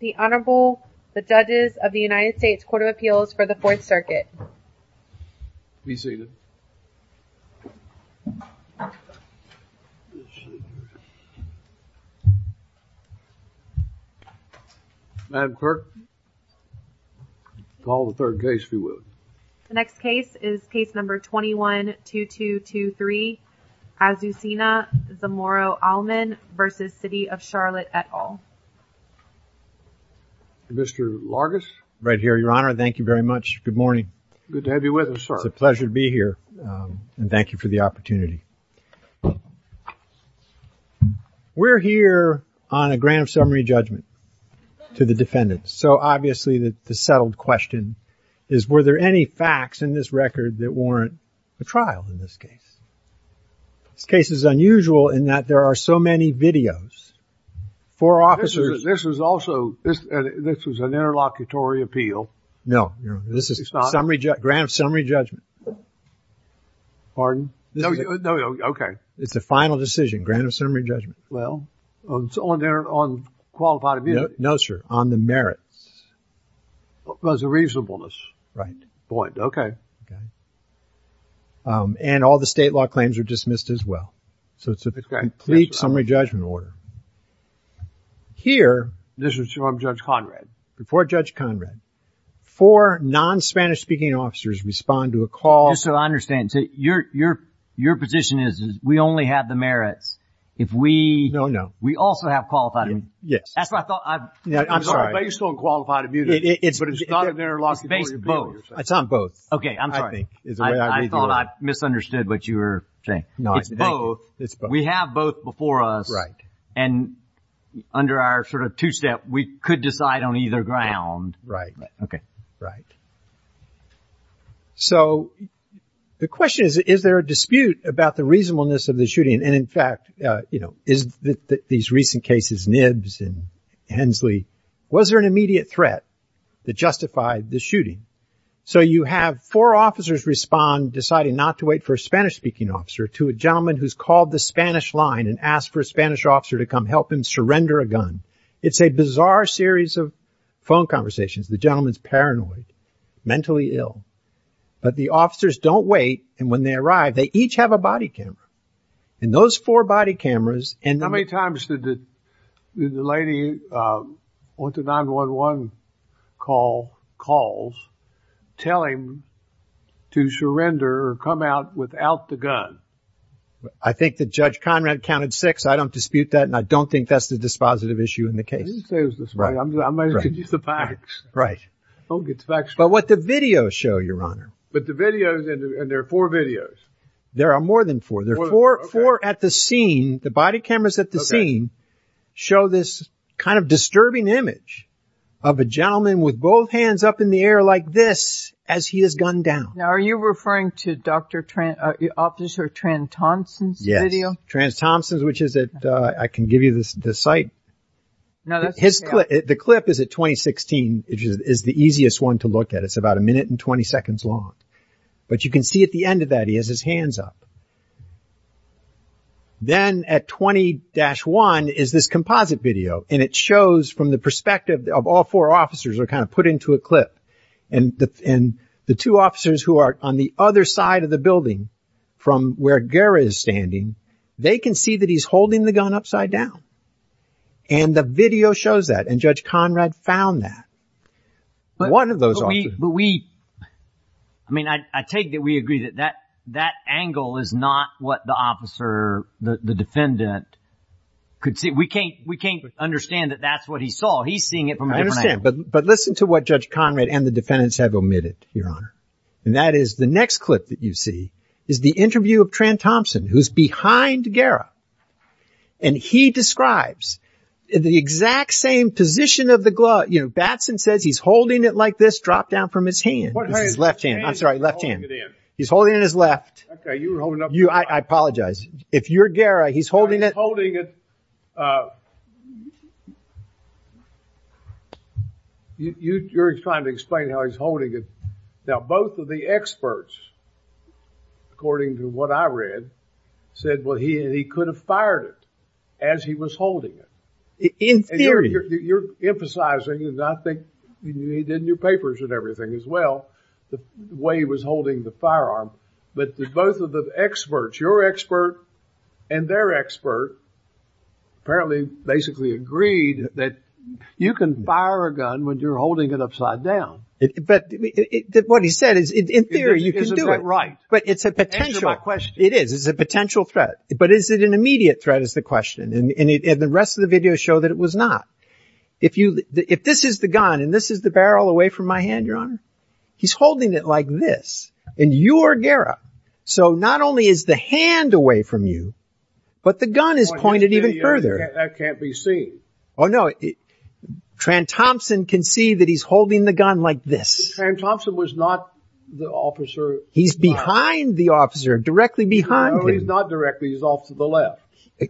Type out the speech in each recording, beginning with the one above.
The Honorable, the Judges of the United States Court of Appeals for the Fourth Circuit. Be seated. Madam Clerk, call the third case, if you would. The next case is case number 21-2223, Azucena Zamorano Aleman v. City of Charlotte et al. Mr. Largus? Right here, Your Honor. Thank you very much. Good morning. Good to have you with us, sir. It's a pleasure to be here and thank you for the opportunity. We're here on a grand summary judgment to the defendants. So obviously, the settled question is, were there any facts in this record that warrant a trial in this case? This case is unusual in that there are so many videos. Four officers. This is also, this was an interlocutory appeal. No, this is a grand summary judgment. Pardon? No, OK. It's a final decision, grand summary judgment. Well, it's on qualified immunity. No, sir. On the merits. It was a reasonableness point. OK. And all the state law claims are dismissed as well. So it's a complete summary judgment order. Here, this is from Judge Conrad. Before Judge Conrad, four non-Spanish speaking officers respond to a call. So the question is, is there a dispute about the reasonableness of the shooting? And in fact, you know, is that these recent cases, Nibbs and Hensley, was there an immediate threat that justified the shooting? So you have four officers respond, deciding not to wait for a Spanish speaking officer to a gentleman who's called the Spanish line and asked for a Spanish officer to come help him surrender a gun. It's a bizarre series of phone conversations. The gentleman's paranoid, mentally ill. But the officers don't wait. And when they arrive, they each have a body camera. And those four body cameras. And how many times did the lady on the 9-1-1 call, calls, tell him to surrender or come out without the gun? I think that Judge Conrad counted six. I don't dispute that. And I don't think that's the dispositive issue in the case. I didn't say it was dispositive. I meant to use the facts. Right. Don't get the facts wrong. But what the videos show, Your Honor. But the videos, and there are four videos. There are more than four. There are four at the scene. The body cameras at the scene show this kind of disturbing image of a gentleman with both hands up in the air like this as he is gunned down. Now, are you referring to Dr. Tran, Officer Tran-Thompson's video? Yes. Tran-Thompson's, which is at, I can give you the site. The clip is at 2016, which is the easiest one to look at. It's about a minute and 20 seconds long. But you can see at the end of that, he has his hands up. Then at 20-1 is this composite video. And it shows from the perspective of all four officers are kind of put into a clip. And the two officers who are on the other side of the building from where Guerra is standing, they can see that he's holding the gun upside down. And the video shows that. And Judge Conrad found that. One of those officers. But we, I mean, I take that we agree that that angle is not what the officer, the defendant, could see. We can't understand that that's what he saw. He's seeing it from a different angle. I understand. But listen to what Judge Conrad and the defendants have omitted, Your Honor. And that is the next clip that you see is the interview of Tran-Thompson, who's behind Guerra. And he describes the exact same position of the glove. You know, Batson says he's holding it like this drop down from his hand. His left hand. I'm sorry. Left hand. He's holding it in his left. I apologize. If you're Guerra, he's holding it. You're trying to explain how he's holding it. Now, both of the experts, according to what I read, said, well, he could have fired it as he was holding it. In theory. You're emphasizing, and I think you did in your papers and everything as well, the way he was holding the firearm. But both of the experts, your expert and their expert, apparently basically agreed that you can fire a gun when you're holding it upside down. But what he said is, in theory, you can do it. But it's a potential question. It is. It's a potential threat. But is it an immediate threat is the question. And the rest of the videos show that it was not. If this is the gun and this is the barrel away from my hand, Your Honor, he's holding it like this. And you are Guerra. So not only is the hand away from you, but the gun is pointed even further. That can't be seen. Oh, no. Tran Thompson can see that he's holding the gun like this. Tran Thompson was not the officer. He's behind the officer, directly behind him. No, he's not directly. He's off to the left.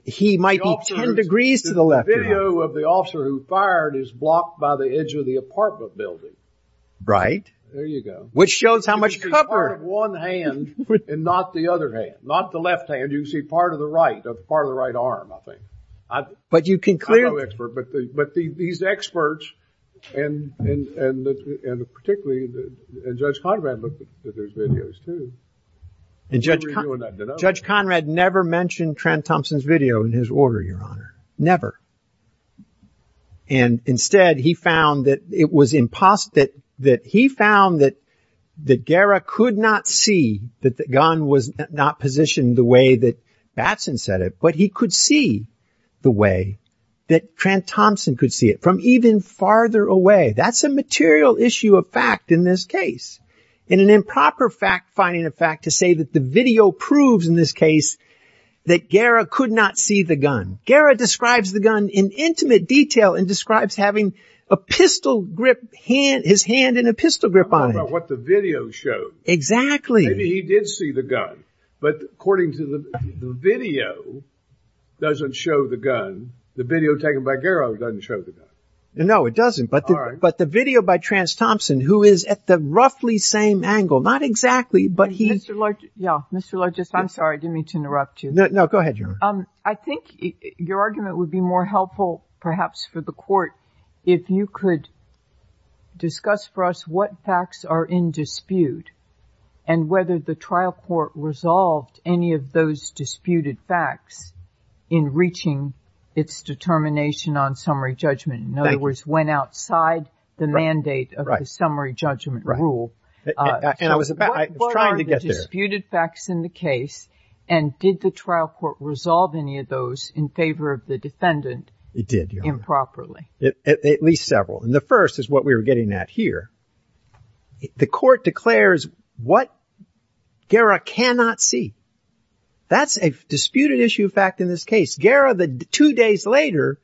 He might be 10 degrees to the left. The video of the officer who fired is blocked by the edge of the apartment building. Right. There you go. Which shows how much cover. It's part of one hand and not the other hand, not the left hand. You can see part of the right, part of the right arm, I think. I'm no expert, but these experts and particularly Judge Conrad looked at those videos, too. Judge Conrad never mentioned Tran Thompson's video in his order, Your Honor. Never. And instead, he found that it was impossible. He found that Guerra could not see that the gun was not positioned the way that Batson said it. But he could see the way that Tran Thompson could see it from even farther away. That's a material issue of fact in this case. And an improper fact-finding effect to say that the video proves in this case that Guerra could not see the gun. Guerra describes the gun in intimate detail and describes having a pistol grip, his hand in a pistol grip on it. I don't know about what the video showed. Exactly. Maybe he did see the gun. But according to the video, it doesn't show the gun. The video taken by Guerra doesn't show the gun. No, it doesn't. But the video by Tran Thompson, who is at the roughly same angle, not exactly, but he... Mr. Largest, I'm sorry, I didn't mean to interrupt you. No, go ahead, Your Honor. I think your argument would be more helpful, perhaps, for the court if you could discuss for us what facts are in dispute and whether the trial court resolved any of those disputed facts in reaching its determination on summary judgment. In other words, went outside the mandate of the summary judgment rule. I was trying to get there. What are the disputed facts in the case? And did the trial court resolve any of those in favor of the defendant improperly? It did, Your Honor. At least several. The first is what we were getting at here. The court declares what Guerra cannot see. That's a disputed issue fact in this case. Guerra, two days later,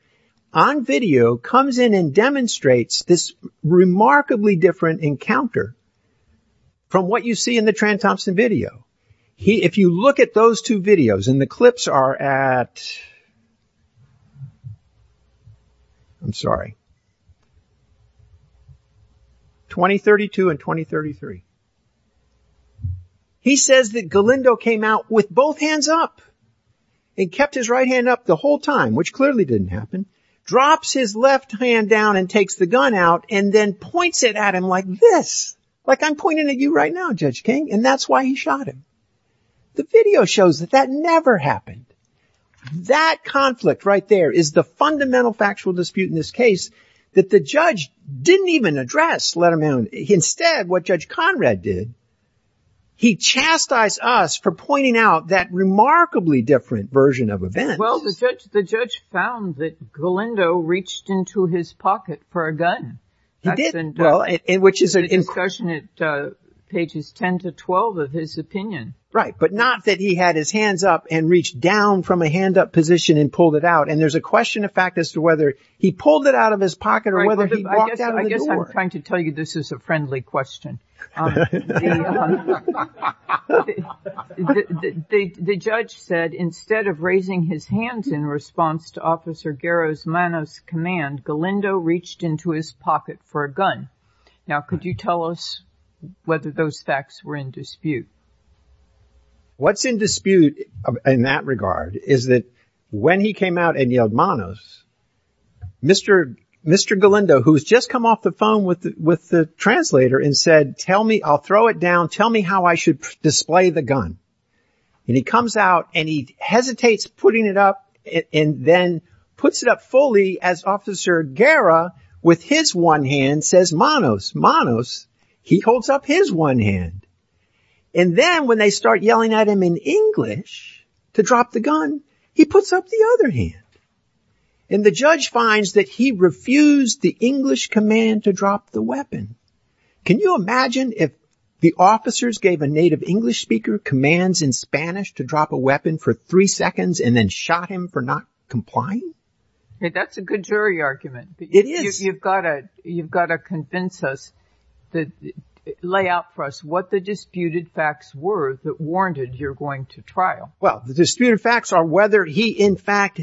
on video, comes in and demonstrates this remarkably different encounter from what you see in the Tran Thompson video. If you look at those two videos, and the clips are at... I'm sorry. 2032 and 2033. He says that Galindo came out with both hands up and kept his right hand up the whole time, which clearly didn't happen, drops his left hand down and takes the gun out, and then points it at him like this. Like, I'm pointing at you right now, Judge King. And that's why he shot him. The video shows that that never happened. That conflict right there is the fundamental factual dispute in this case that the judge didn't even address, let alone... Instead, what Judge Conrad did, he chastised us for pointing out that remarkably different version of events. Well, the judge found that Galindo reached into his pocket for a gun. He did. In the discussion at pages 10 to 12 of his opinion. Right, but not that he had his hands up and reached down from a hand-up position and pulled it out. And there's a question of fact as to whether he pulled it out of his pocket or whether he walked out of the door. I guess I'm trying to tell you this is a friendly question. The judge said, instead of raising his hands in response to Officer Garos Manos' command, Galindo reached into his pocket for a gun. Now, could you tell us whether those facts were in dispute? What's in dispute, in that regard, is that when he came out and yelled Manos, Mr. Galindo, who's just come off the phone with the translator, and said, tell me, I'll throw it down, tell me how I should display the gun. And he comes out and he hesitates putting it up and then puts it up fully as Officer Garos, with his one hand, says Manos, Manos. He holds up his one hand. And then when they start yelling at him in English to drop the gun, he puts up the other hand. And the judge finds that he refused the English command to drop the weapon. Can you imagine if the officers gave a native English speaker commands in Spanish to drop a weapon for three seconds and then shot him for not complying? That's a good jury argument. It is. You've got to convince us, lay out for us, what the disputed facts were that warranted your going to trial. Well, the disputed facts are whether he, in fact,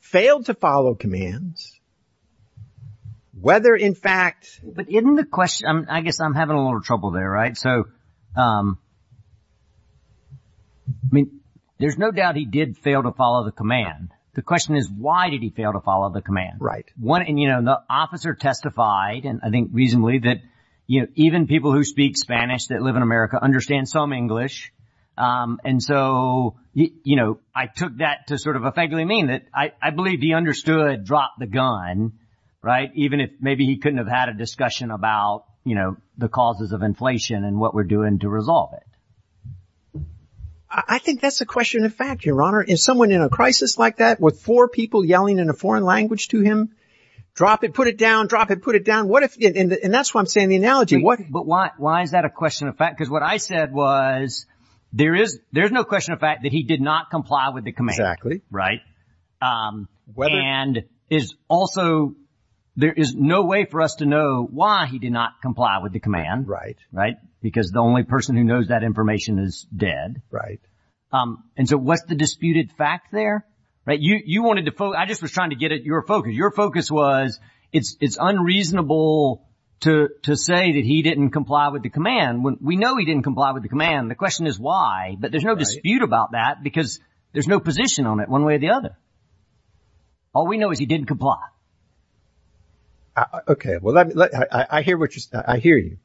failed to follow commands. Whether, in fact... But isn't the question, I guess I'm having a little trouble there, right? So, I mean, there's no doubt he did fail to follow the command. The question is, why did he fail to follow the command? Right. And, you know, the officer testified, and I think reasonably, that even people who speak Spanish, that live in America, understand some English. And so, you know, I took that to sort of a vaguely mean that I believe he understood drop the gun. Right? Even if maybe he couldn't have had a discussion about, you know, the causes of inflation and what we're doing to resolve it. I think that's a question of fact, Your Honor. Is someone in a crisis like that with four people yelling in a foreign language to him? Drop it, put it down, drop it, put it down. And that's why I'm saying the analogy. But why is that a question of fact? Because what I said was, there is no question of fact that he did not comply with the command. Exactly. Right? And is also, there is no way for us to know why he did not comply with the command. Right. Right? Because the only person who knows that information is dead. Right. And so, what's the disputed fact there? Right? You wanted to focus, I just was trying to get at your focus. Your focus was, it's unreasonable to say that he didn't comply with the command. We know he didn't comply with the command. The question is why, but there's no dispute about that because there's no position on it one way or the other. All we know is he didn't comply. Okay, well, I hear you.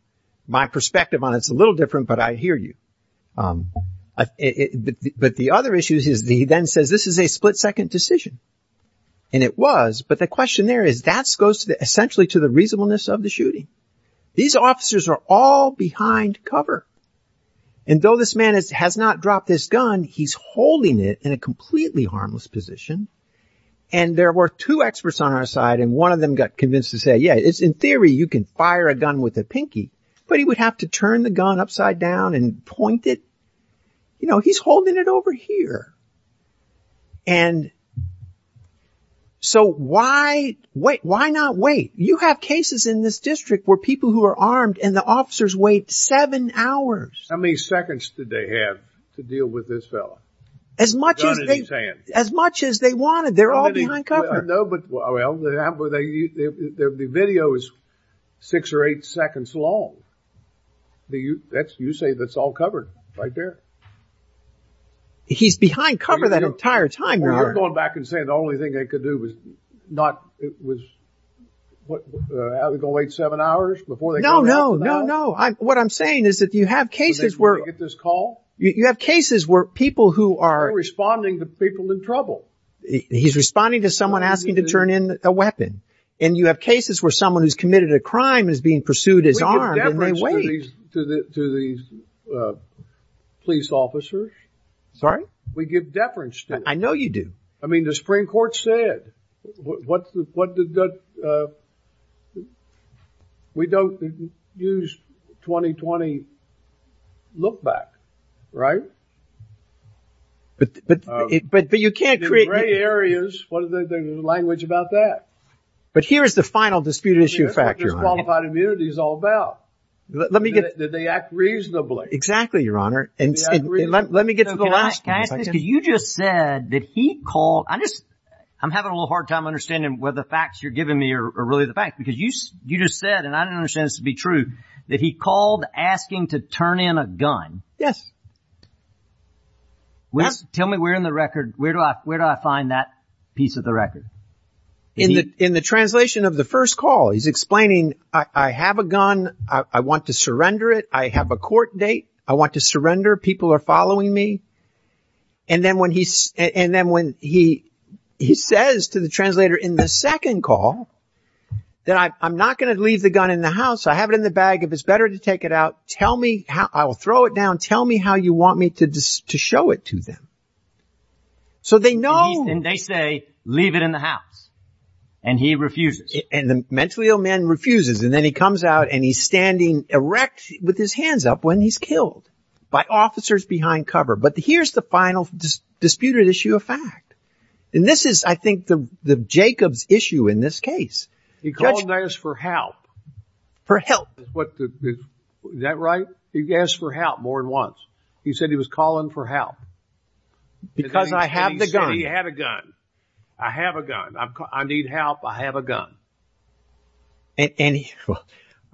My perspective on it is a little different, but I hear you. But the other issue is that he then says, this is a split-second decision. And it was, but the question there is, that goes essentially to the reasonableness of the shooting. These officers are all behind cover. And though this man has not dropped his gun, he's holding it in a completely harmless position. And there were two experts on our side and one of them got convinced to say, yeah, it's in theory you can fire a gun with a pinky, but he would have to turn the gun upside down and point it. You know, he's holding it over here. And so why, wait, why not wait? You have cases in this district where people who are armed and the officers wait seven hours. How many seconds did they have to deal with this fellow? As much as they wanted. They're all behind cover. No, but, well, the video is six or eight seconds long. You say that's all covered right there. He's behind cover that entire time. Well, you're going back and saying the only thing they could do was not, it was, what, are they going to wait seven hours? No, no, no, no. What I'm saying is that you have cases where... When they get this call? You have cases where people who are... They're responding to people in trouble. He's responding to someone asking to turn in a weapon. is being pursued as armed and they wait. To these police officers. Sorry? We give deference to them. I know you do. I mean, the Supreme Court said, we don't use 2020 look back, right? But you can't create... In gray areas, what is the language about that? But here's the final disputed issue factor. That's what disqualified immunity is all about. Let me get... That they act reasonably. Exactly, Your Honor. Let me get to the last thing. Can I ask this? Because you just said that he called... I'm having a little hard time understanding whether the facts you're giving me are really the facts. Because you just said, and I don't understand this to be true, that he called asking to turn in a gun. Yes. Tell me where in the record, where do I find that piece of the record? In the translation of the first call, he's explaining, I have a gun. I want to surrender it. I have a court date. I want to surrender. People are following me. And then when he says to the translator in the second call, that I'm not going to leave the gun in the house. I have it in the bag. If it's better to take it out, tell me. I will throw it down. Tell me how you want me to show it to them. So they know... And they say, leave it in the house. And he refuses. And the mentally ill man refuses. And then he comes out and he's standing erect with his hands up when he's killed by officers behind cover. But here's the final disputed issue of fact. And this is, I think, Jacob's issue in this case. He called to ask for help. For help. Is that right? He asked for help more than once. He said he was calling for help. Because I have the gun. He said he had a gun. I have a gun. I need help. I have a gun. And he...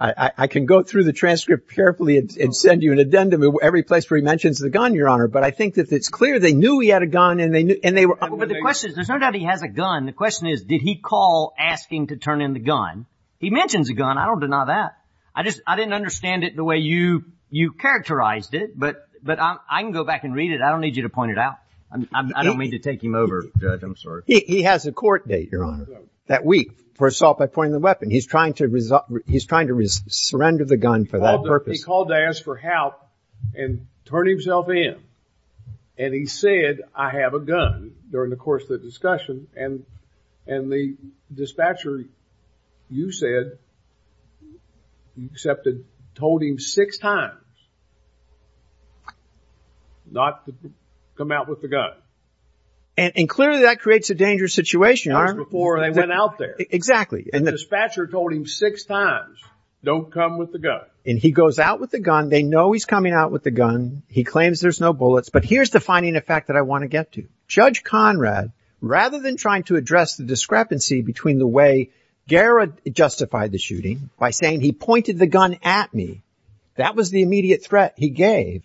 I can go through the transcript carefully and send you an addendum every place where he mentions the gun, Your Honor. But I think that it's clear they knew he had a gun. And they were... But the question is, there's no doubt he has a gun. The question is, did he call asking to turn in the gun? He mentions a gun. I don't deny that. I didn't understand it the way you characterized it. But I can go back and read it. I don't need you to point it out. I don't mean to take him over, Judge. I'm sorry. He has a court date, Your Honor, that week for assault by pointing the weapon. He's trying to surrender the gun for that purpose. He called to ask for help and turn himself in. And he said, I have a gun, during the course of the discussion. And the dispatcher, you said, accepted, told him six times not to come out with the gun. And clearly that creates a dangerous situation, Your Honor. Before they went out there. Exactly. And the dispatcher told him six times, don't come with the gun. And he goes out with the gun. They know he's coming out with the gun. He claims there's no bullets. But here's the finding of fact that I want to get to. Judge Conrad, rather than trying to address the discrepancy between the way Guerra justified the shooting by saying, he pointed the gun at me. That was the immediate threat he gave.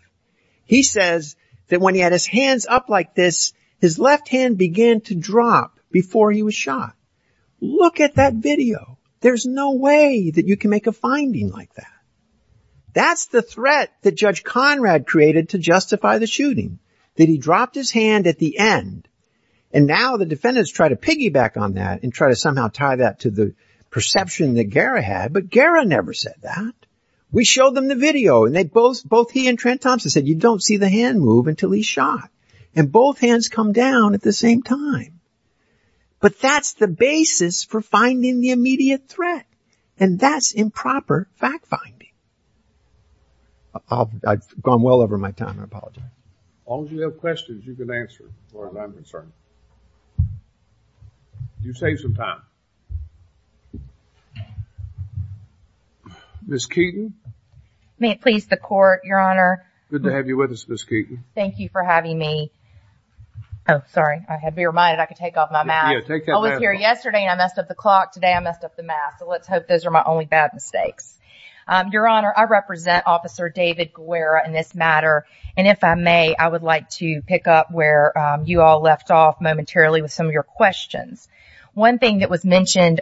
He says that when he had his hands up like this, his left hand began to drop before he was shot. Look at that video. There's no way that you can make a finding like that. That's the threat that Judge Conrad created to justify the shooting. That he dropped his hand at the end. And now the defendants try to piggyback on that and try to somehow tie that to the perception that Guerra had. But Guerra never said that. We showed them the video and both he and Trent Thompson said, you don't see the hand move until he's shot. And both hands come down at the same time. But that's the basis for finding the immediate threat. And that's improper fact finding. I've gone well over my time. I apologize. As long as you have questions, you can answer as long as I'm concerned. You saved some time. Ms. Keeton? May it please the court, Your Honor. Good to have you with us, Ms. Keeton. Thank you for having me. Oh, sorry. I had to be reminded I could take off my mask. I was here yesterday and I messed up the clock. Today I messed up the mask. So let's hope those are my only bad mistakes. Your Honor, I represent Officer David Guerra in this matter. And if I may, I would like to pick up where you all left off momentarily with some of your questions. One thing that was mentioned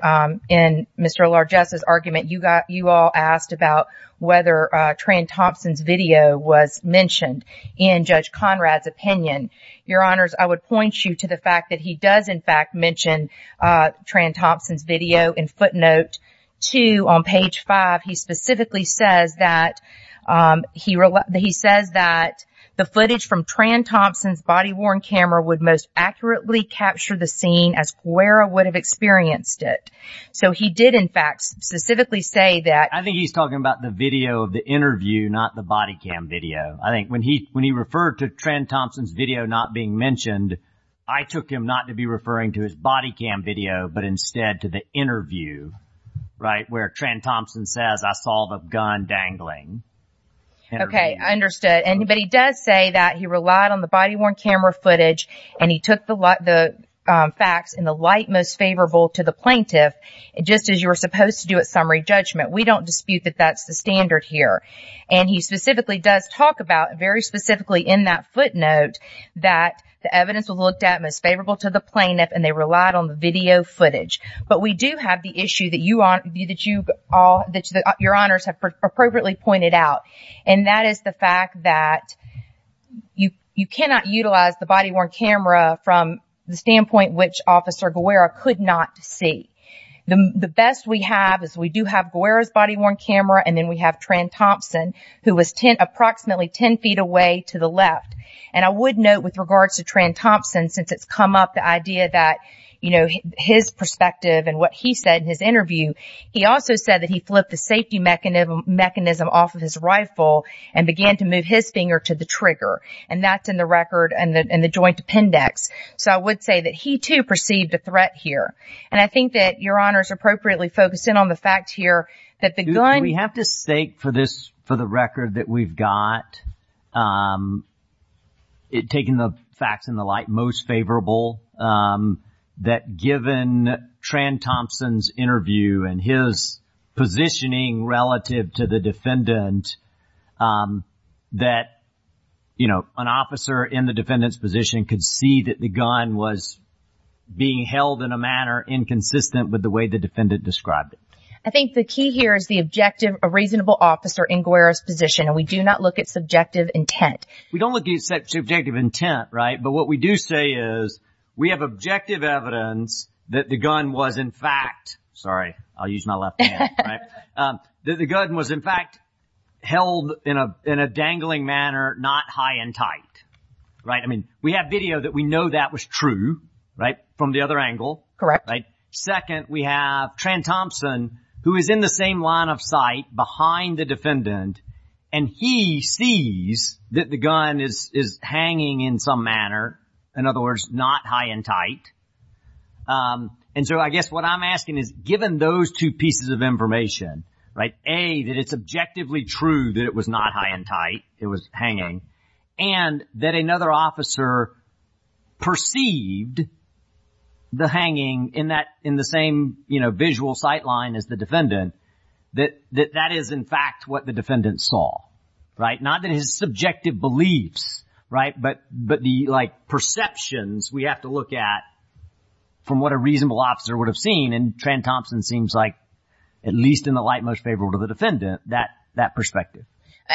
in Mr. Largesta's argument, you all asked about whether Tran Thompson's video was mentioned in Judge Conrad's opinion. Your Honors, I would point you to the fact that he does, in fact, mention Tran Thompson's video in footnote two on page five. He specifically says that he says that the footage from Tran Thompson's body-worn camera would most accurately capture the scene as close to as Guerra would have experienced it. So he did, in fact, specifically say that... I think he's talking about the video of the interview, not the body cam video. I think when he referred to Tran Thompson's video not being mentioned, I took him not to be referring to his body cam video, but instead to the interview, right, where Tran Thompson says, I saw the gun dangling. Okay. I understood. But he does say that he relied on the body-worn camera footage and he took the facts in the light most favorable to the plaintiff, just as you were supposed to do at summary judgment. We don't dispute that that's the standard here. And he specifically does talk about, very specifically in that footnote, that the evidence was looked at most favorable to the plaintiff and they relied on the video footage. But we do have the issue that your Honors have appropriately pointed out, and that is the fact that you cannot utilize the body-worn camera from the standpoint which Officer Guerra could not see. The best we have is we do have Guerra's body-worn camera and then we have Tran Thompson, who was approximately 10 feet away to the left. And I would note, with regards to Tran Thompson, since it's come up, the idea that his perspective and what he said in his interview, he also said that he flipped the safety mechanism off of his rifle and began to move his finger to the trigger. And that's in the record and the joint appendix. So I would say that he, too, perceived a threat here. And I think that your Honors appropriately focused in on the fact here that the gun... We have to stake for the record that we've got, taking the facts in the light, most favorable, that given Tran Thompson's interview and his positioning relative to the defendant, that, you know, an officer in the gun was being held in a manner inconsistent with the way the defendant described it. I think the key here is the objective of a reasonable officer in Guerra's position. And we do not look at subjective intent. We don't look at subjective intent, right? But what we do say is we have objective evidence that the gun was, in fact... Sorry. I'll use my left hand. Right? That the gun was, in fact, held in a dangling manner, not high and tight. Right? I mean, we have video that we know that was true, right, from the other angle. Correct. Right? Second, we have Tran Thompson, who is in the same line of sight behind the defendant, and he sees that the gun is hanging in some manner, in other words, not high and tight. And so I guess what I'm asking is, given those two pieces of information, right, A, that it's objectively true that it was not high and tight, it was that another officer perceived the hanging in that, in the same, you know, visual sight line as the defendant, that that is, in fact, what the defendant saw, right? Not that his subjective beliefs, right, but the, like, perceptions we have to look at from what a reasonable officer would have seen. And Tran Thompson seems like, at least in the light most favorable to the defendant, that perspective.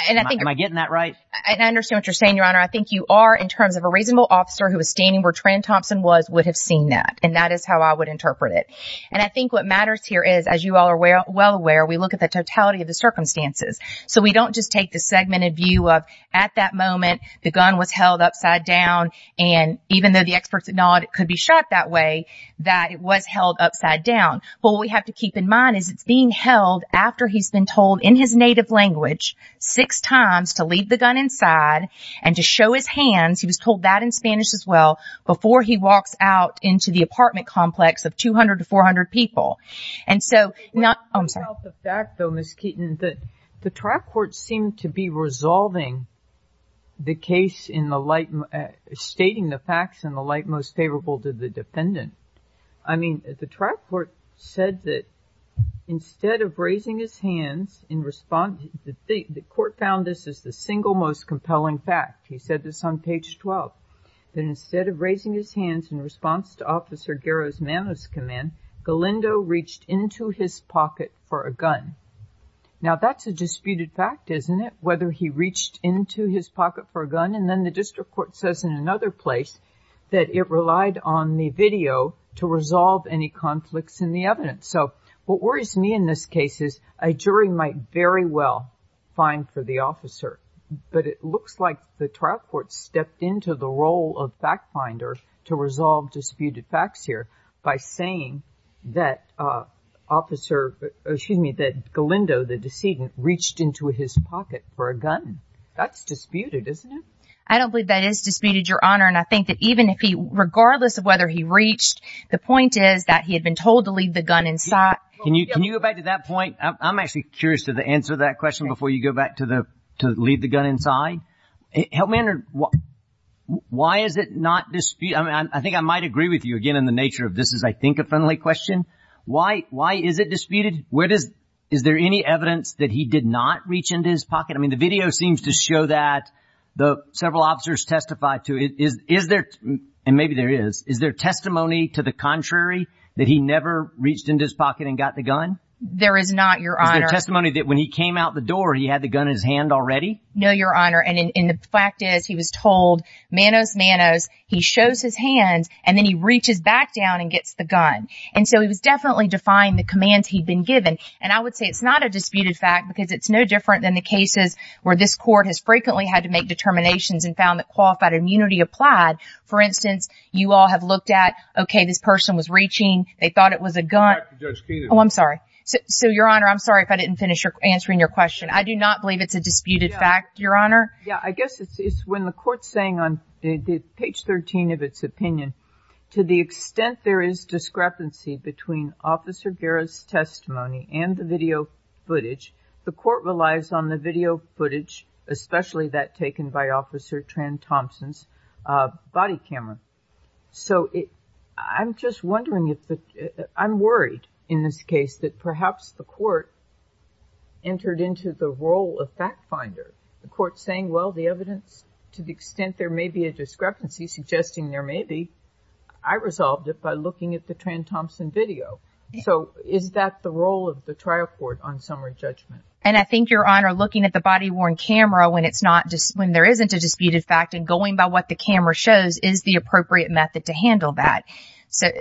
Am I getting that right? I understand what you're saying, Your Honor. I think you are, in terms of a reasonable officer who was standing where Tran Thompson was, would have seen that. And that is how I would interpret it. And I think what matters here is, as you all are well aware, we look at the totality of the circumstances. So we don't just take the segmented view of, at that moment, the gun was held upside down, and even though the experts acknowledge it could be shot that way, that it was held upside down. But what we have to keep in mind is it's being held after he's been told, in his native language, six times to leave the gun inside and to show his hands, he was told that in Spanish as well, before he walks out into the apartment complex of 200 to 400 people. And so, I'm sorry. The fact, though, Ms. Keeton, that the trial court seemed to be resolving the case in the light, stating the facts in the light most favorable to the defendant. I mean, the trial court said that instead of raising his hands in response the court found this is the single most compelling fact. He said this on page 12. That instead of raising his hands in response to Officer Garrow's Manos command, Galindo reached into his pocket for a gun. Now, that's a disputed fact, isn't it? Whether he reached into his pocket for a gun. And then the district court says in another place that it relied on the video to resolve any conflicts in the evidence. So, what worries me in this case is a jury might very well find for the officer. But it looks like the trial court stepped into the role of fact finder to resolve disputed facts here by saying that Galindo, the decedent, reached into his pocket for a gun. That's disputed, isn't it? I don't believe that is disputed, Your Honor. And I think that even if he, regardless of whether he reached, the point is that he had been told to leave the gun inside. Can you go back to that point? I'm actually curious to the answer to that question before you go back to leave the gun inside. Help me understand. Why is it not disputed? I think I might agree with you again in the nature of this is, I think, a friendly question. Why is it disputed? Is there any evidence that he did not reach into his pocket? I mean, the video seems to show that. Several officers testified to it. Is there, and maybe there is, is there testimony to the contrary that he never reached into his pocket and got the gun? There is not, Your Honor. Is there testimony that when he came out the door, he had the gun in his hand already? No, Your Honor. And the fact is, he was told, manos, manos, he shows his hands, and then he reaches back down and gets the gun. And so he was definitely defying the commands he'd been given. And I would say it's not a disputed fact, because it's no different than the cases where this court has frequently had to make determinations and found that qualified immunity applied. For instance, you all have looked at, okay, this person was reaching, they thought it was a gun. Oh, I'm sorry. So, Your Honor, I'm sorry if I didn't finish answering your question. I do not believe it's a disputed fact, Your Honor. Yeah, I guess it's when the court's saying on page 13 of its opinion, to the extent there is discrepancy between Officer Guerra's testimony and the video footage, the court relies on the video footage, especially that taken by Officer Tran-Thompson's body camera. So, I'm just wondering if the court's saying that, you know, I'm worried in this case that perhaps the court entered into the role of fact finder. The court's saying, well, the evidence, to the extent there may be a discrepancy, suggesting there may be, I resolved it by looking at the Tran-Thompson video. So, is that the role of the trial court on summary judgment? And I think, Your Honor, looking at the body-worn camera when it's not, when there isn't a disputed fact and going by what the camera shows is the appropriate method to handle that.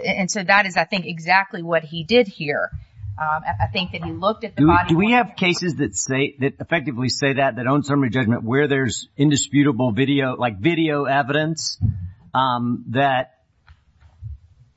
And so, that is, I think, exactly what he did here. I think that he looked at the body-worn camera. Do we have cases that say, that effectively say that, that on summary judgment where there's indisputable video, like video evidence that,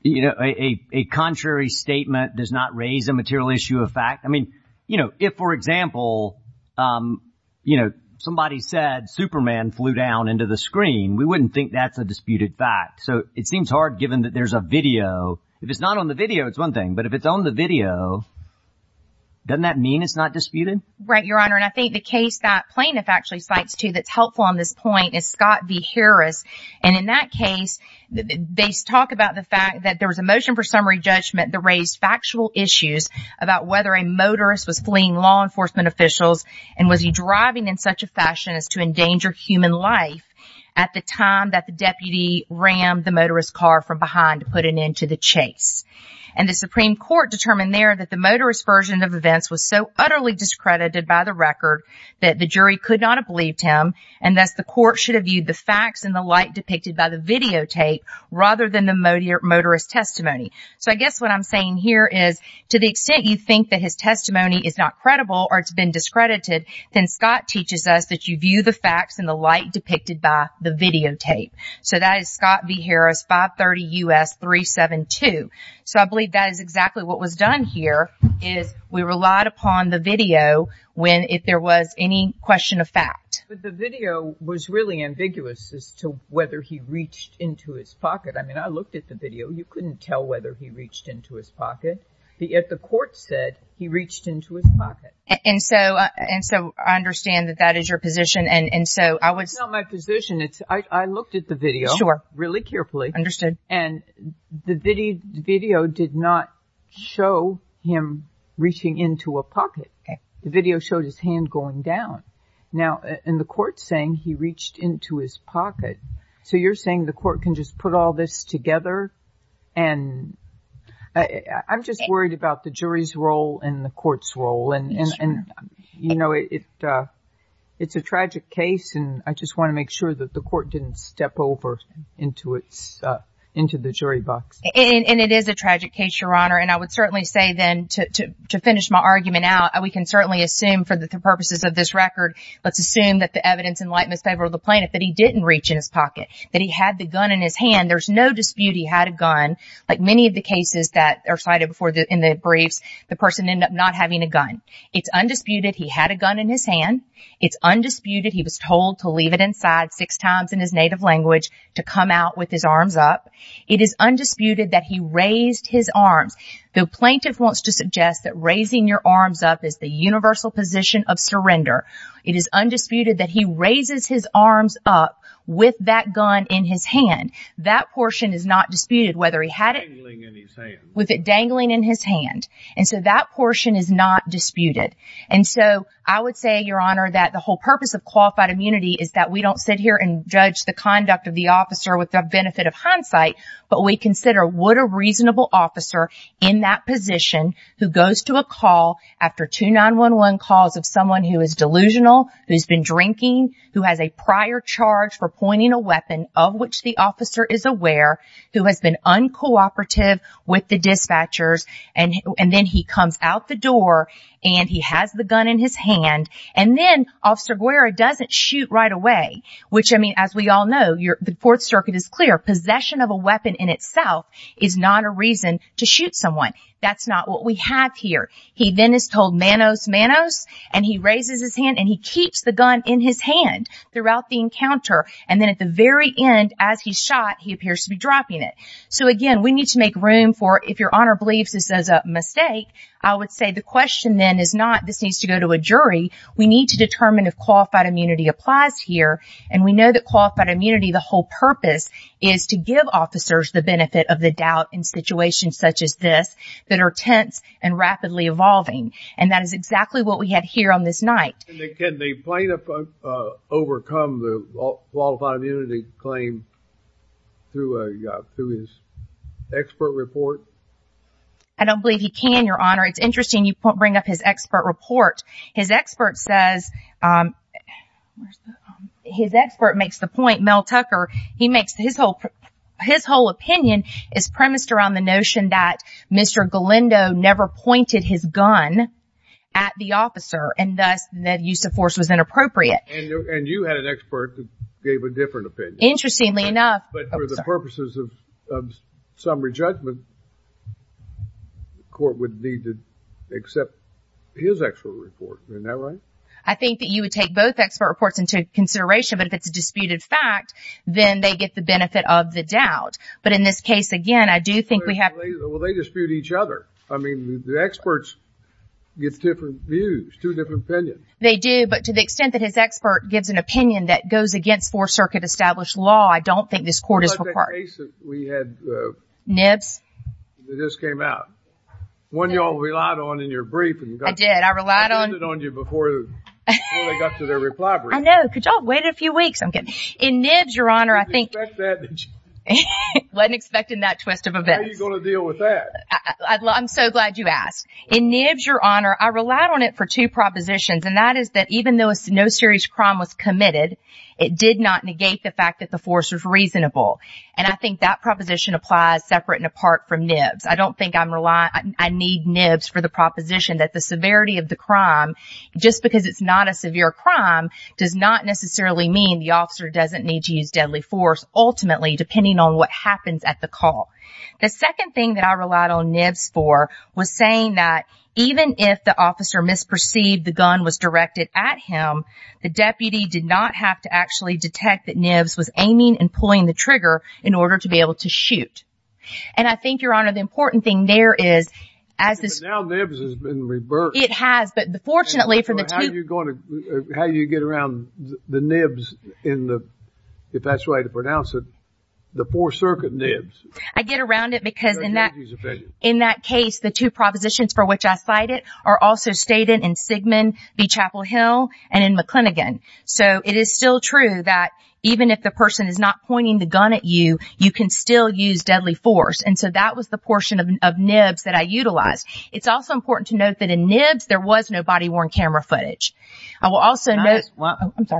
you know, a contrary statement does not raise a material issue of fact? I mean, you know, if, for example, you know, somebody said Superman flew down into the screen, we wouldn't think that's a disputed fact. So, it seems hard given that there's a video. If it's not on the video, it's one thing. But if it's on the video, doesn't that mean it's not disputed? Right, Your Honor. And I think the case that plaintiff actually cites, too, that's helpful on this point is Scott v. Harris. And in that case, they talk about the fact that there was a motion for summary judgment that raised factual issues about whether a motorist was fleeing law enforcement officials and was he driving in such a fashion as to endanger human life at the time that the deputy rammed the motorist's car from behind to put an end to the chase. And the Supreme Court determined there that the motorist's version of events was so utterly discredited by the record that the jury could not have believed him and thus the court should have viewed the facts in the light depicted by the videotape rather than the motorist's testimony. So, I guess what I'm saying here is, to the extent you think that his testimony is not credible or it's been discredited, then Scott teaches us that you view the facts in the light depicted by the videotape. So, that is Scott v. Harris, 530 U.S. 372. So, I believe that is exactly what was done here is we relied upon the video when if there was any question of fact. But the video was really ambiguous as to whether he reached into his pocket. I mean, I looked at the video. You couldn't tell whether he reached into his pocket. Yet the court said he reached into his pocket. And so, I understand that that is your position. And so, I would... It's not my position. I looked at the video really carefully. Understood. And the video did not show him reaching into a pocket. The video showed his hand going down. Now, and the court's saying he reached into his pocket. So, you're saying the court can just put all this together? And I'm just worried about the jury's role and the court's role. And, you know, it's a tragic case. And I just want to make sure that the court didn't step over into the jury box. And it is a tragic case, Your Honor. And I would certainly say then, to finish my argument out, we can certainly assume for the purposes of this record, let's assume that the evidence in light and in favor of the plaintiff that he didn't reach in his pocket, that he had the gun in his hand. And there's no dispute he had a gun. Like many of the cases that are cited before in the briefs, the person ended up not having a gun. It's undisputed he had a gun in his hand. It's undisputed he was told to leave it inside six times in his native language to come out with his arms up. It is undisputed that he raised his arms. The plaintiff wants to suggest that raising your arms up is the universal position of surrender. It is undisputed that he raises his arms up with that gun in his hand. That portion is not disputed, whether he had it... ...dangling in his hand. ...with it dangling in his hand. And so that portion is not disputed. And so I would say, Your Honor, that the whole purpose of qualified immunity is that we don't sit here and judge the conduct of the officer with the benefit of hindsight, but we consider would a reasonable officer in that position who goes to a call after two 911 calls of someone who is delusional, who's been drinking, who has a prior charge for pointing a weapon, of which the officer is aware, who has been uncooperative with the dispatchers, and then he comes out the door and he has the gun in his hand, and then Officer Guerra doesn't shoot right away, which, I mean, as we all know, the Fourth Circuit is clear, possession of a weapon in itself is not a reason to shoot someone. That's not what we have here. He then is told, Manos, Manos, and he raises his hand and he keeps the gun in his hand throughout the encounter. And then at the very end, as he's shot, he appears to be dropping it. So, again, we need to make room for, if Your Honor believes this is a mistake, I would say the question then is not, this needs to go to a jury. We need to determine if qualified immunity applies here, and we know that qualified immunity, the whole purpose is to give officers the benefit of the doubt in situations such as this that are tense and rapidly evolving. And that is exactly what we have here on this night. Can the plaintiff overcome the qualified immunity claim through his expert report? I don't believe he can, Your Honor. It's interesting you bring up his expert report. His expert says, his expert makes the point, Mel Tucker, he makes his whole opinion is premised around the notion that Mr. Galindo never pointed his gun at the officer and thus that use of force was inappropriate. And you had an expert that gave a different opinion. Interestingly enough... But for the purposes of summary judgment, the court would need to accept his expert report. Isn't that right? I think that you would take both expert reports into consideration, but if it's a disputed fact, then they get the benefit of the doubt. But in this case, again, I do think we have... Well, they dispute each other. I mean, the experts get different views, two different opinions. They do, but to the extent that his expert gives an opinion that goes against four-circuit established law, I don't think this court is required. Nibs? It just came out. One you all relied on in your brief. I did, I relied on... I did it on you before they got to their reply brief. I know, could y'all wait a few weeks? In Nibs, Your Honor, I think... Wasn't expecting that twist of events. How are you going to deal with that? I'm so glad you asked. In Nibs, Your Honor, I relied on it for two propositions, and that is that even though no serious crime was committed, it did not negate the fact that the force was reasonable. And I think that proposition applies separate and apart from Nibs. I don't think I'm relying... I need Nibs for the proposition that the severity of the crime, just because it's not a severe crime, does not necessarily mean the officer doesn't need to use deadly force, ultimately, depending on what happens at the call. The second thing that I relied on Nibs for was saying that even if the officer misperceived the gun was directed at him, the deputy did not have to actually detect that Nibs was aiming and pulling the trigger in order to be able to shoot. And I think, Your Honor, the important thing there is, as this... But now Nibs has been reversed. It has, but fortunately for the two... How do you get around the Nibs in the... The Fourth Circuit Nibs? I get around it because in that... In that case, the two propositions for which I cited are also stated in Sigman v. Chapel Hill and in McClinigan. So it is still true that even if the person is not pointing the gun at you, you can still use deadly force. And so that was the portion of Nibs that I utilized. It's also important to note that in Nibs, there was no body-worn camera footage. I will also note...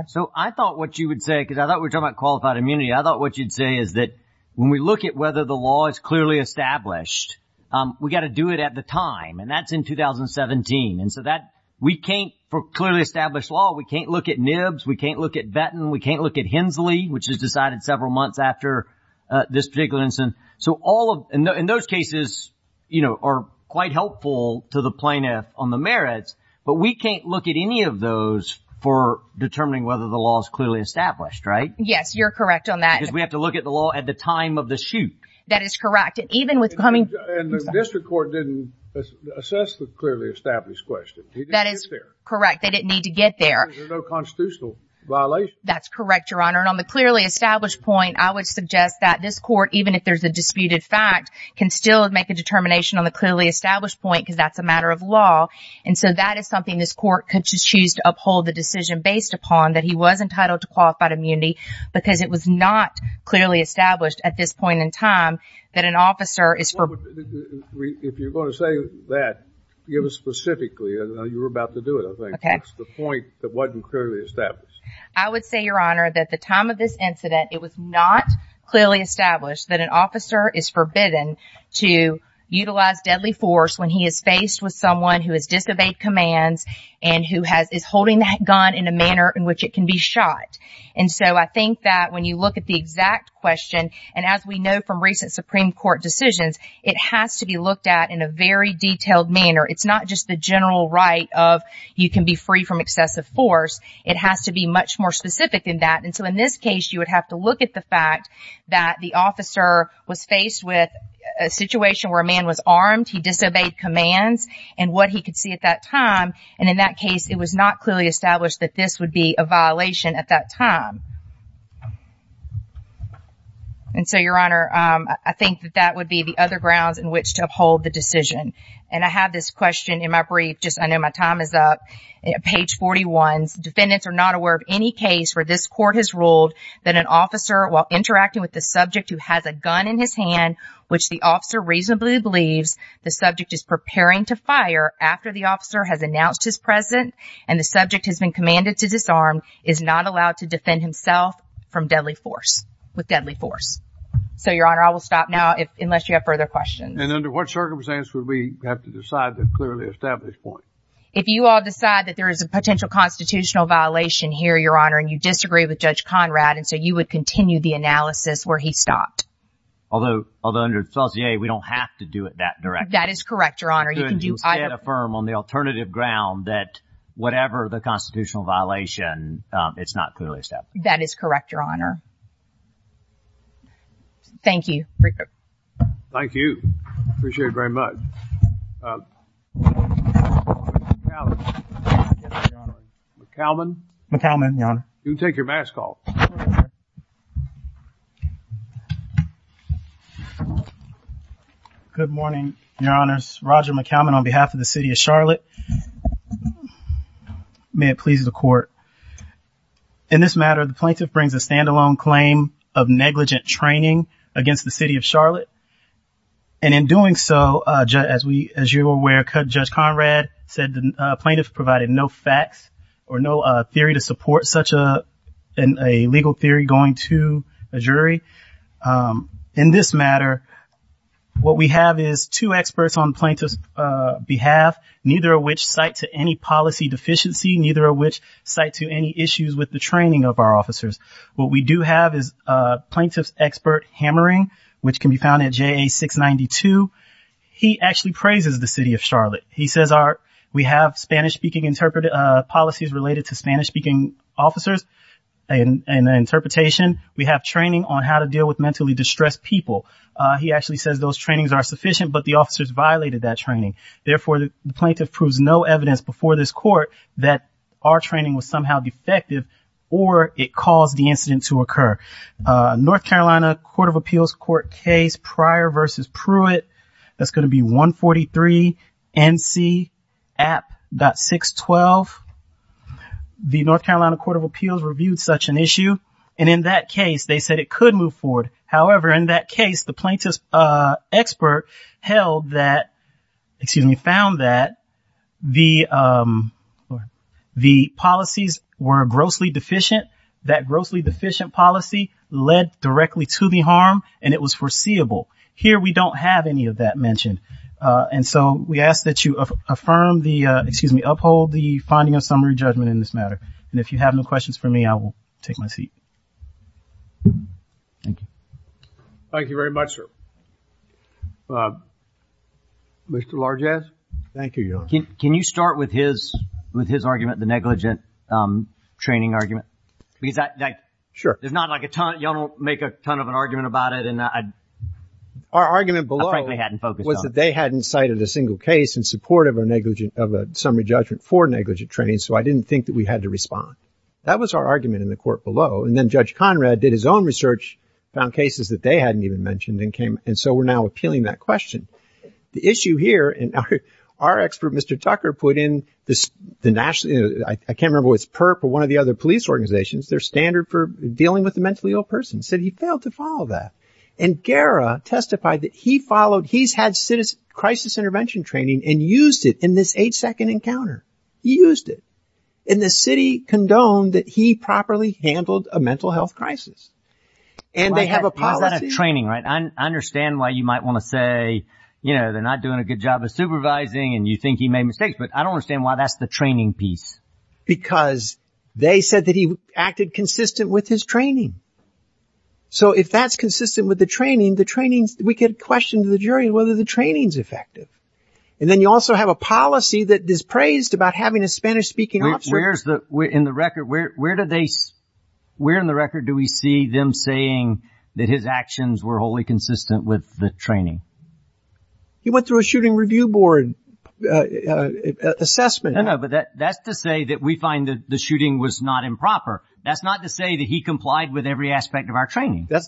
So I thought what you would say, because I thought we were talking about qualified immunity, I thought what you'd say is that when we look at whether the law is clearly established, we've got to do it at the time. And that's in 2017. And so that... We can't, for clearly established law, we can't look at Nibs, we can't look at Vetin, we can't look at Hensley, which is decided several months after this particular incident. So all of... And those cases are quite helpful to the plaintiff on the merits, but we can't look at any of those for determining whether the law is clearly established, right? Yes, you're correct on that. Because we have to look at the law at the time of the shoot. That is correct. And the district court didn't assess the clearly established question. That is correct. They didn't need to get there. There's no constitutional violation. That's correct, Your Honor. And on the clearly established point, I would suggest that this court, even if there's a disputed fact, can still make a determination on the clearly established point because that's a matter of law. And so that is something this court could choose to uphold the decision based upon that he was entitled to qualified immunity because it was not clearly established at this point in time that an officer is... If you're going to say that, give us specifically. You were about to do it, I think. Okay. The point that wasn't clearly established. I would say, Your Honor, that at the time of this incident, it was not clearly established that an officer is forbidden to utilize deadly force when he is faced with someone who has disobeyed commands and who is holding that gun in a manner in which it can be shot. And so I think that when you look at the exact question, and as we know from recent Supreme Court decisions, it has to be looked at in a very detailed manner. It's not just the general right of you can be free from excessive force. It has to be much more specific than that. And so in this case, you would have to look at the fact that the officer was faced with a situation where a man was armed, he disobeyed commands, and what he could see at that time. And in that case, it was not clearly established that this would be a violation at that time. And so, Your Honor, I think that that would be the other grounds in which to uphold the decision. And I have this question in my brief. I know my time is up. Page 41. Defendants are not aware of any case where this court has ruled that an officer, while interacting with the subject who has a gun in his hand, which the officer reasonably believes the subject is preparing to fire after the officer has announced his presence and the subject has been commanded to disarm, is not allowed to defend himself from deadly force. With deadly force. So, Your Honor, I will stop now, unless you have further questions. And under what circumstances would we have to decide the clearly established point? If you all decide that there is a potential constitutional violation here, Your Honor, and you disagree with Judge Conrad, and so you would continue the analysis where he stopped. Although, under Felicity A, we don't have to do it that directly. That is correct, Your Honor. You can affirm on the alternative ground that whatever the constitutional violation, it's not clearly established. That is correct, Your Honor. Thank you. Thank you. Appreciate it very much. Uh, McAllen. McAllen. McAllen, Your Honor. You can take your mask off. Good morning, Your Honors. Roger McAllen on behalf of the City of Charlotte. May it please the Court. In this matter, the plaintiff brings a stand-alone claim of negligent training against the City of Charlotte. And in doing so, as you are aware, Judge Conrad said the plaintiff provided no facts or no theory to support such a legal theory going to a jury. In this matter, what we have is two experts on the plaintiff's behalf, neither of which cite to any policy deficiency, neither of which cite to any issues with the training of our officers. What we do have is a plaintiff's expert Hammering, which can be found at JA 692. He actually praises the City of Charlotte. He says we have Spanish-speaking policies related to Spanish-speaking officers and interpretation. We have training on how to deal with mentally distressed people. He actually says those trainings are sufficient, but the officers violated that training. Therefore, the plaintiff proves no evidence before this Court that our training was somehow defective or it caused the incident to occur. North Carolina Court of Appeals Court case, Pryor v. Pruitt, that's going to be 143 NC App. 612. The North Carolina Court of Appeals reviewed such an issue and in that case, they said it could move forward. However, in that case, the plaintiff's expert found that the policies were grossly deficient. That grossly deficient policy led directly to the harm and it was foreseeable. Here, we don't have any of that mentioned. We ask that you uphold the finding of summary judgment in this matter. If you have no questions for me, I will take my seat. Thank you. Thank you very much, sir. Mr. Largess, thank you. Can you start with his argument, the negligent training argument? Sure. There's not like a ton. Y'all don't make a ton of an argument about it. Our argument below was that they hadn't cited a single case in support of a summary judgment for negligent training so I didn't think that we had to respond. That was our argument in the court below and then Judge Conrad did his own research, found cases that they hadn't even mentioned and so we're now appealing that question. The issue here, our expert, Mr. Tucker, put in I can't remember if it was PERP or one of the other police organizations, their standard for dealing with a mentally ill person, said he failed to follow that and Guerra testified that he followed, he's had crisis intervention training and used it in this eight second encounter. He used it. And the city condoned that he properly handled a mental health crisis. And they have a policy. I understand why you might want to say they're not doing a good job of supervising and you think he made mistakes but I don't understand why that's the training piece. Because they said that he acted consistent with his training. So if that's consistent with the training, we could question the jury whether the training's effective. And then you also have a policy that is praised about having a Spanish speaking officer. Where in the record do we see them saying that his actions were wholly consistent with the training? He went through a shooting review board assessment. No, no, but that's to say that we find that the shooting was not improper. That's not to say that he complied with every aspect of our training. That's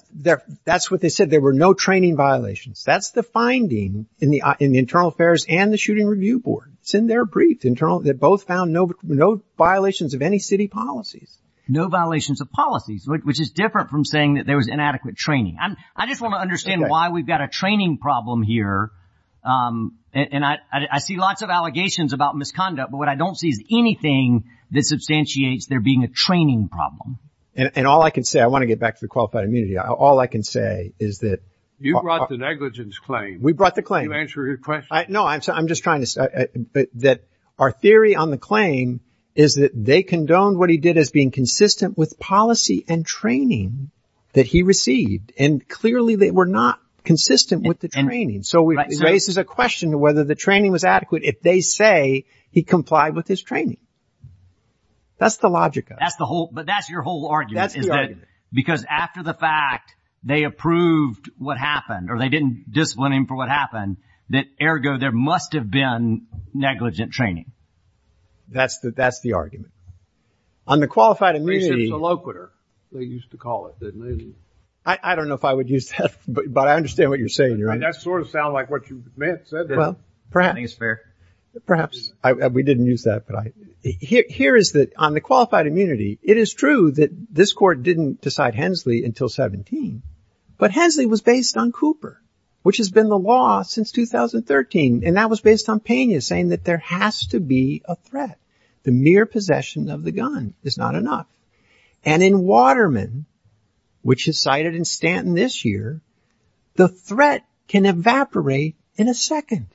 what they said. There were no training violations. That's the finding in the internal affairs and the shooting review board. It's in their brief. They both found no violations of any city policies. No violations of policies, which is different from saying that there was inadequate training. I just want to understand why we've got a training problem here. And I see lots of allegations about misconduct, but what I don't see is anything that substantiates there being a training problem. And all I can say, I want to get back to the qualified immunity, all I can say is that You brought the negligence claim. We brought the claim. Can you answer his question? I'm just trying to say that our theory on the claim is that they condoned what he did as being consistent with policy and training that he received, and clearly they were not consistent with the training. So it raises a question whether the training was adequate if they say he complied with his training. That's the logic of it. But that's your whole argument. Because after the fact they approved what happened or they didn't discipline him for what happened that ergo there must have been negligent training. That's the argument. On the qualified immunity I don't know if I would use that but I understand what you're saying. That sort of sounds like what you meant. Perhaps. We didn't use that. Here is that on the qualified immunity it is true that this court didn't decide Hensley until 17 but Hensley was based on Cooper which has been the law since 2013 and that was based on Pena saying that there has to be a threat. The mere possession of the gun is not enough. And in Waterman which is cited in Stanton this year, the threat can evaporate in a second.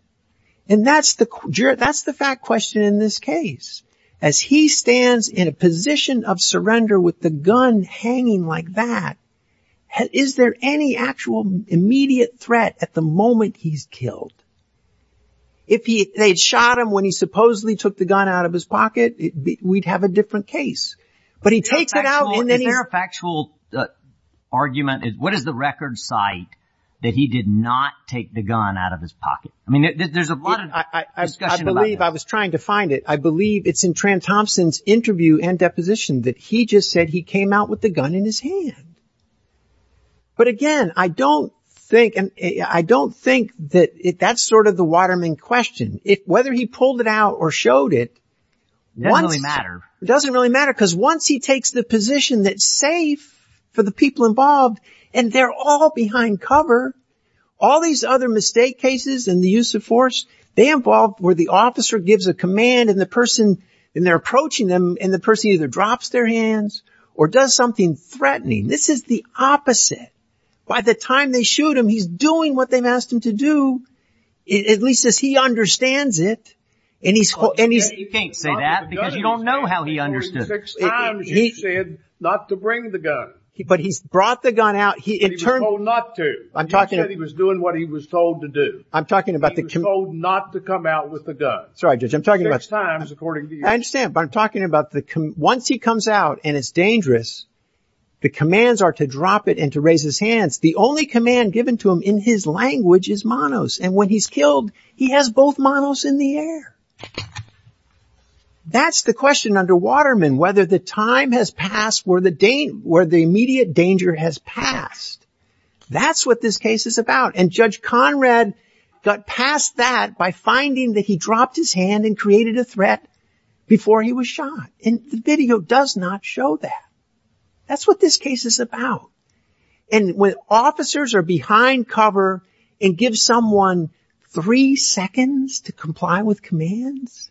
And that's the fact question in this case. As he stands in a position of surrender with the gun hanging like that is there any actual immediate threat at the moment he's killed? If they shot him when he supposedly took the gun out of his pocket we'd have a different case. Is there a factual argument? What is the record site that he did not take the gun out of his pocket? There's a lot of discussion about that. I believe it's in Tran Thompson's interview and deposition that he just said he came out with the gun in his hand. But again I don't think that's sort of the Waterman question. Whether he pulled it out or showed it doesn't really matter. Because once he takes the position that's safe for the people involved and they're all behind cover all these other mistake cases and the use of force, they involve where the officer gives a command and they're approaching them and the person either drops their hands or does something threatening. This is the opposite. By the time they shoot him he's doing what they've asked him to do at least as he understands it. You can't say that because you don't know how he understood it. He said not to bring the gun. He was told not to. He said he was doing what he was told to do. He was told not to come out with the gun. Six times according to you. Once he comes out and it's dangerous the commands are to drop it and to raise his hands. The only command given to him in his he has both manos in the air. That's the question under Waterman whether the time has passed where the immediate danger has passed. That's what this case is about. Judge Conrad got past that by finding that he dropped his hand and created a threat before he was shot. The video does not show that. That's what this case is about. When officers are behind cover and give someone three seconds to comply with commands,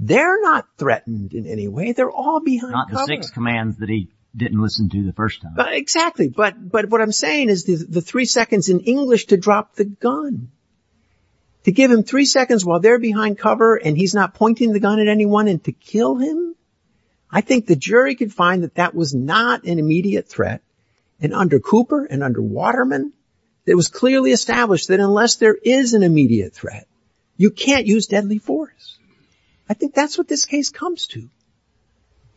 they're not threatened in any way. They're all behind cover. Not the six commands that he didn't listen to the first time. Exactly. What I'm saying is the three seconds in English to drop the gun. To give him three seconds while they're behind cover and he's not pointing the gun at anyone and to kill him. I think the jury could find that that was not an immediate threat. Under Cooper and under Conrad, they established that unless there is an immediate threat, you can't use deadly force. I think that's what this case comes to.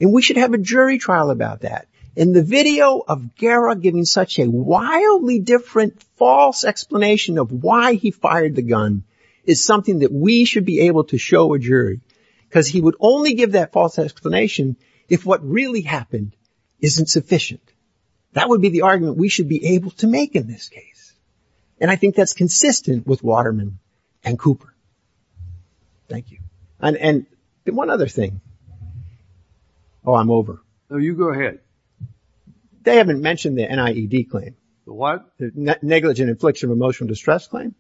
We should have a jury trial about that. In the video of Guerra giving such a wildly different false explanation of why he fired the gun is something that we should be able to show a jury because he would only give that false explanation if what really happened isn't sufficient. That would be the argument we should be able to make in this case. I think that's consistent with Waterman and Cooper. Thank you. One other thing. Oh, I'm over. No, you go ahead. They haven't mentioned the NIED claim. The what? The negligent infliction of emotional distress claim,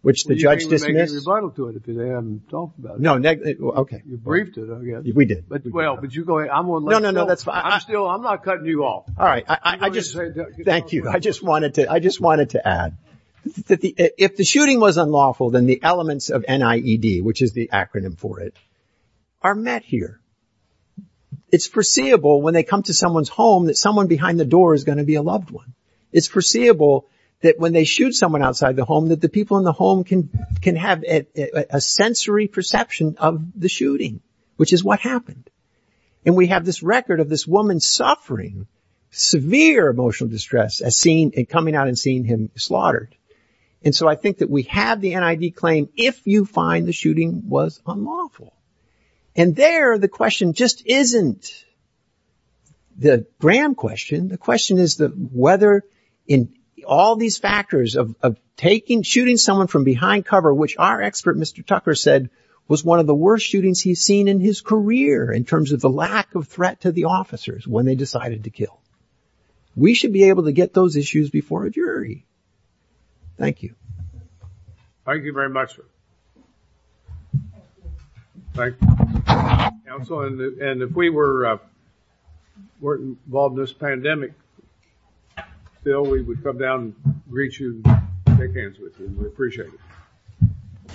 which the judge dismissed. You can't even make a rebuttal to it if they haven't talked about it. You briefed it, I guess. We did. Well, but you go ahead. I'm not cutting you off. Thank you. I just wanted to add that if the shooting was unlawful, then the elements of NIED, which is the acronym for it, are met here. It's foreseeable when they come to someone's home that someone behind the door is going to be a loved one. It's foreseeable that when they shoot someone outside the home that the people in the home can have a sensory perception of the shooting, which is what happened. And we have this record of this woman suffering severe emotional distress coming out and seeing him slaughtered. And so I think that we have the NIED claim if you find the shooting was unlawful. And there, the question just isn't the Graham question. The question is whether in all these factors of shooting someone from behind cover, which our expert, Mr. Tucker, said was one of the worst shootings he's seen in his career in terms of the lack of threat to the officers when they decided to kill. We should be able to get those issues before a jury. Thank you. Thank you very much, sir. Thank you. And if we were involved in this pandemic, Bill, we would come down and greet you and take hands with you. We'd appreciate it.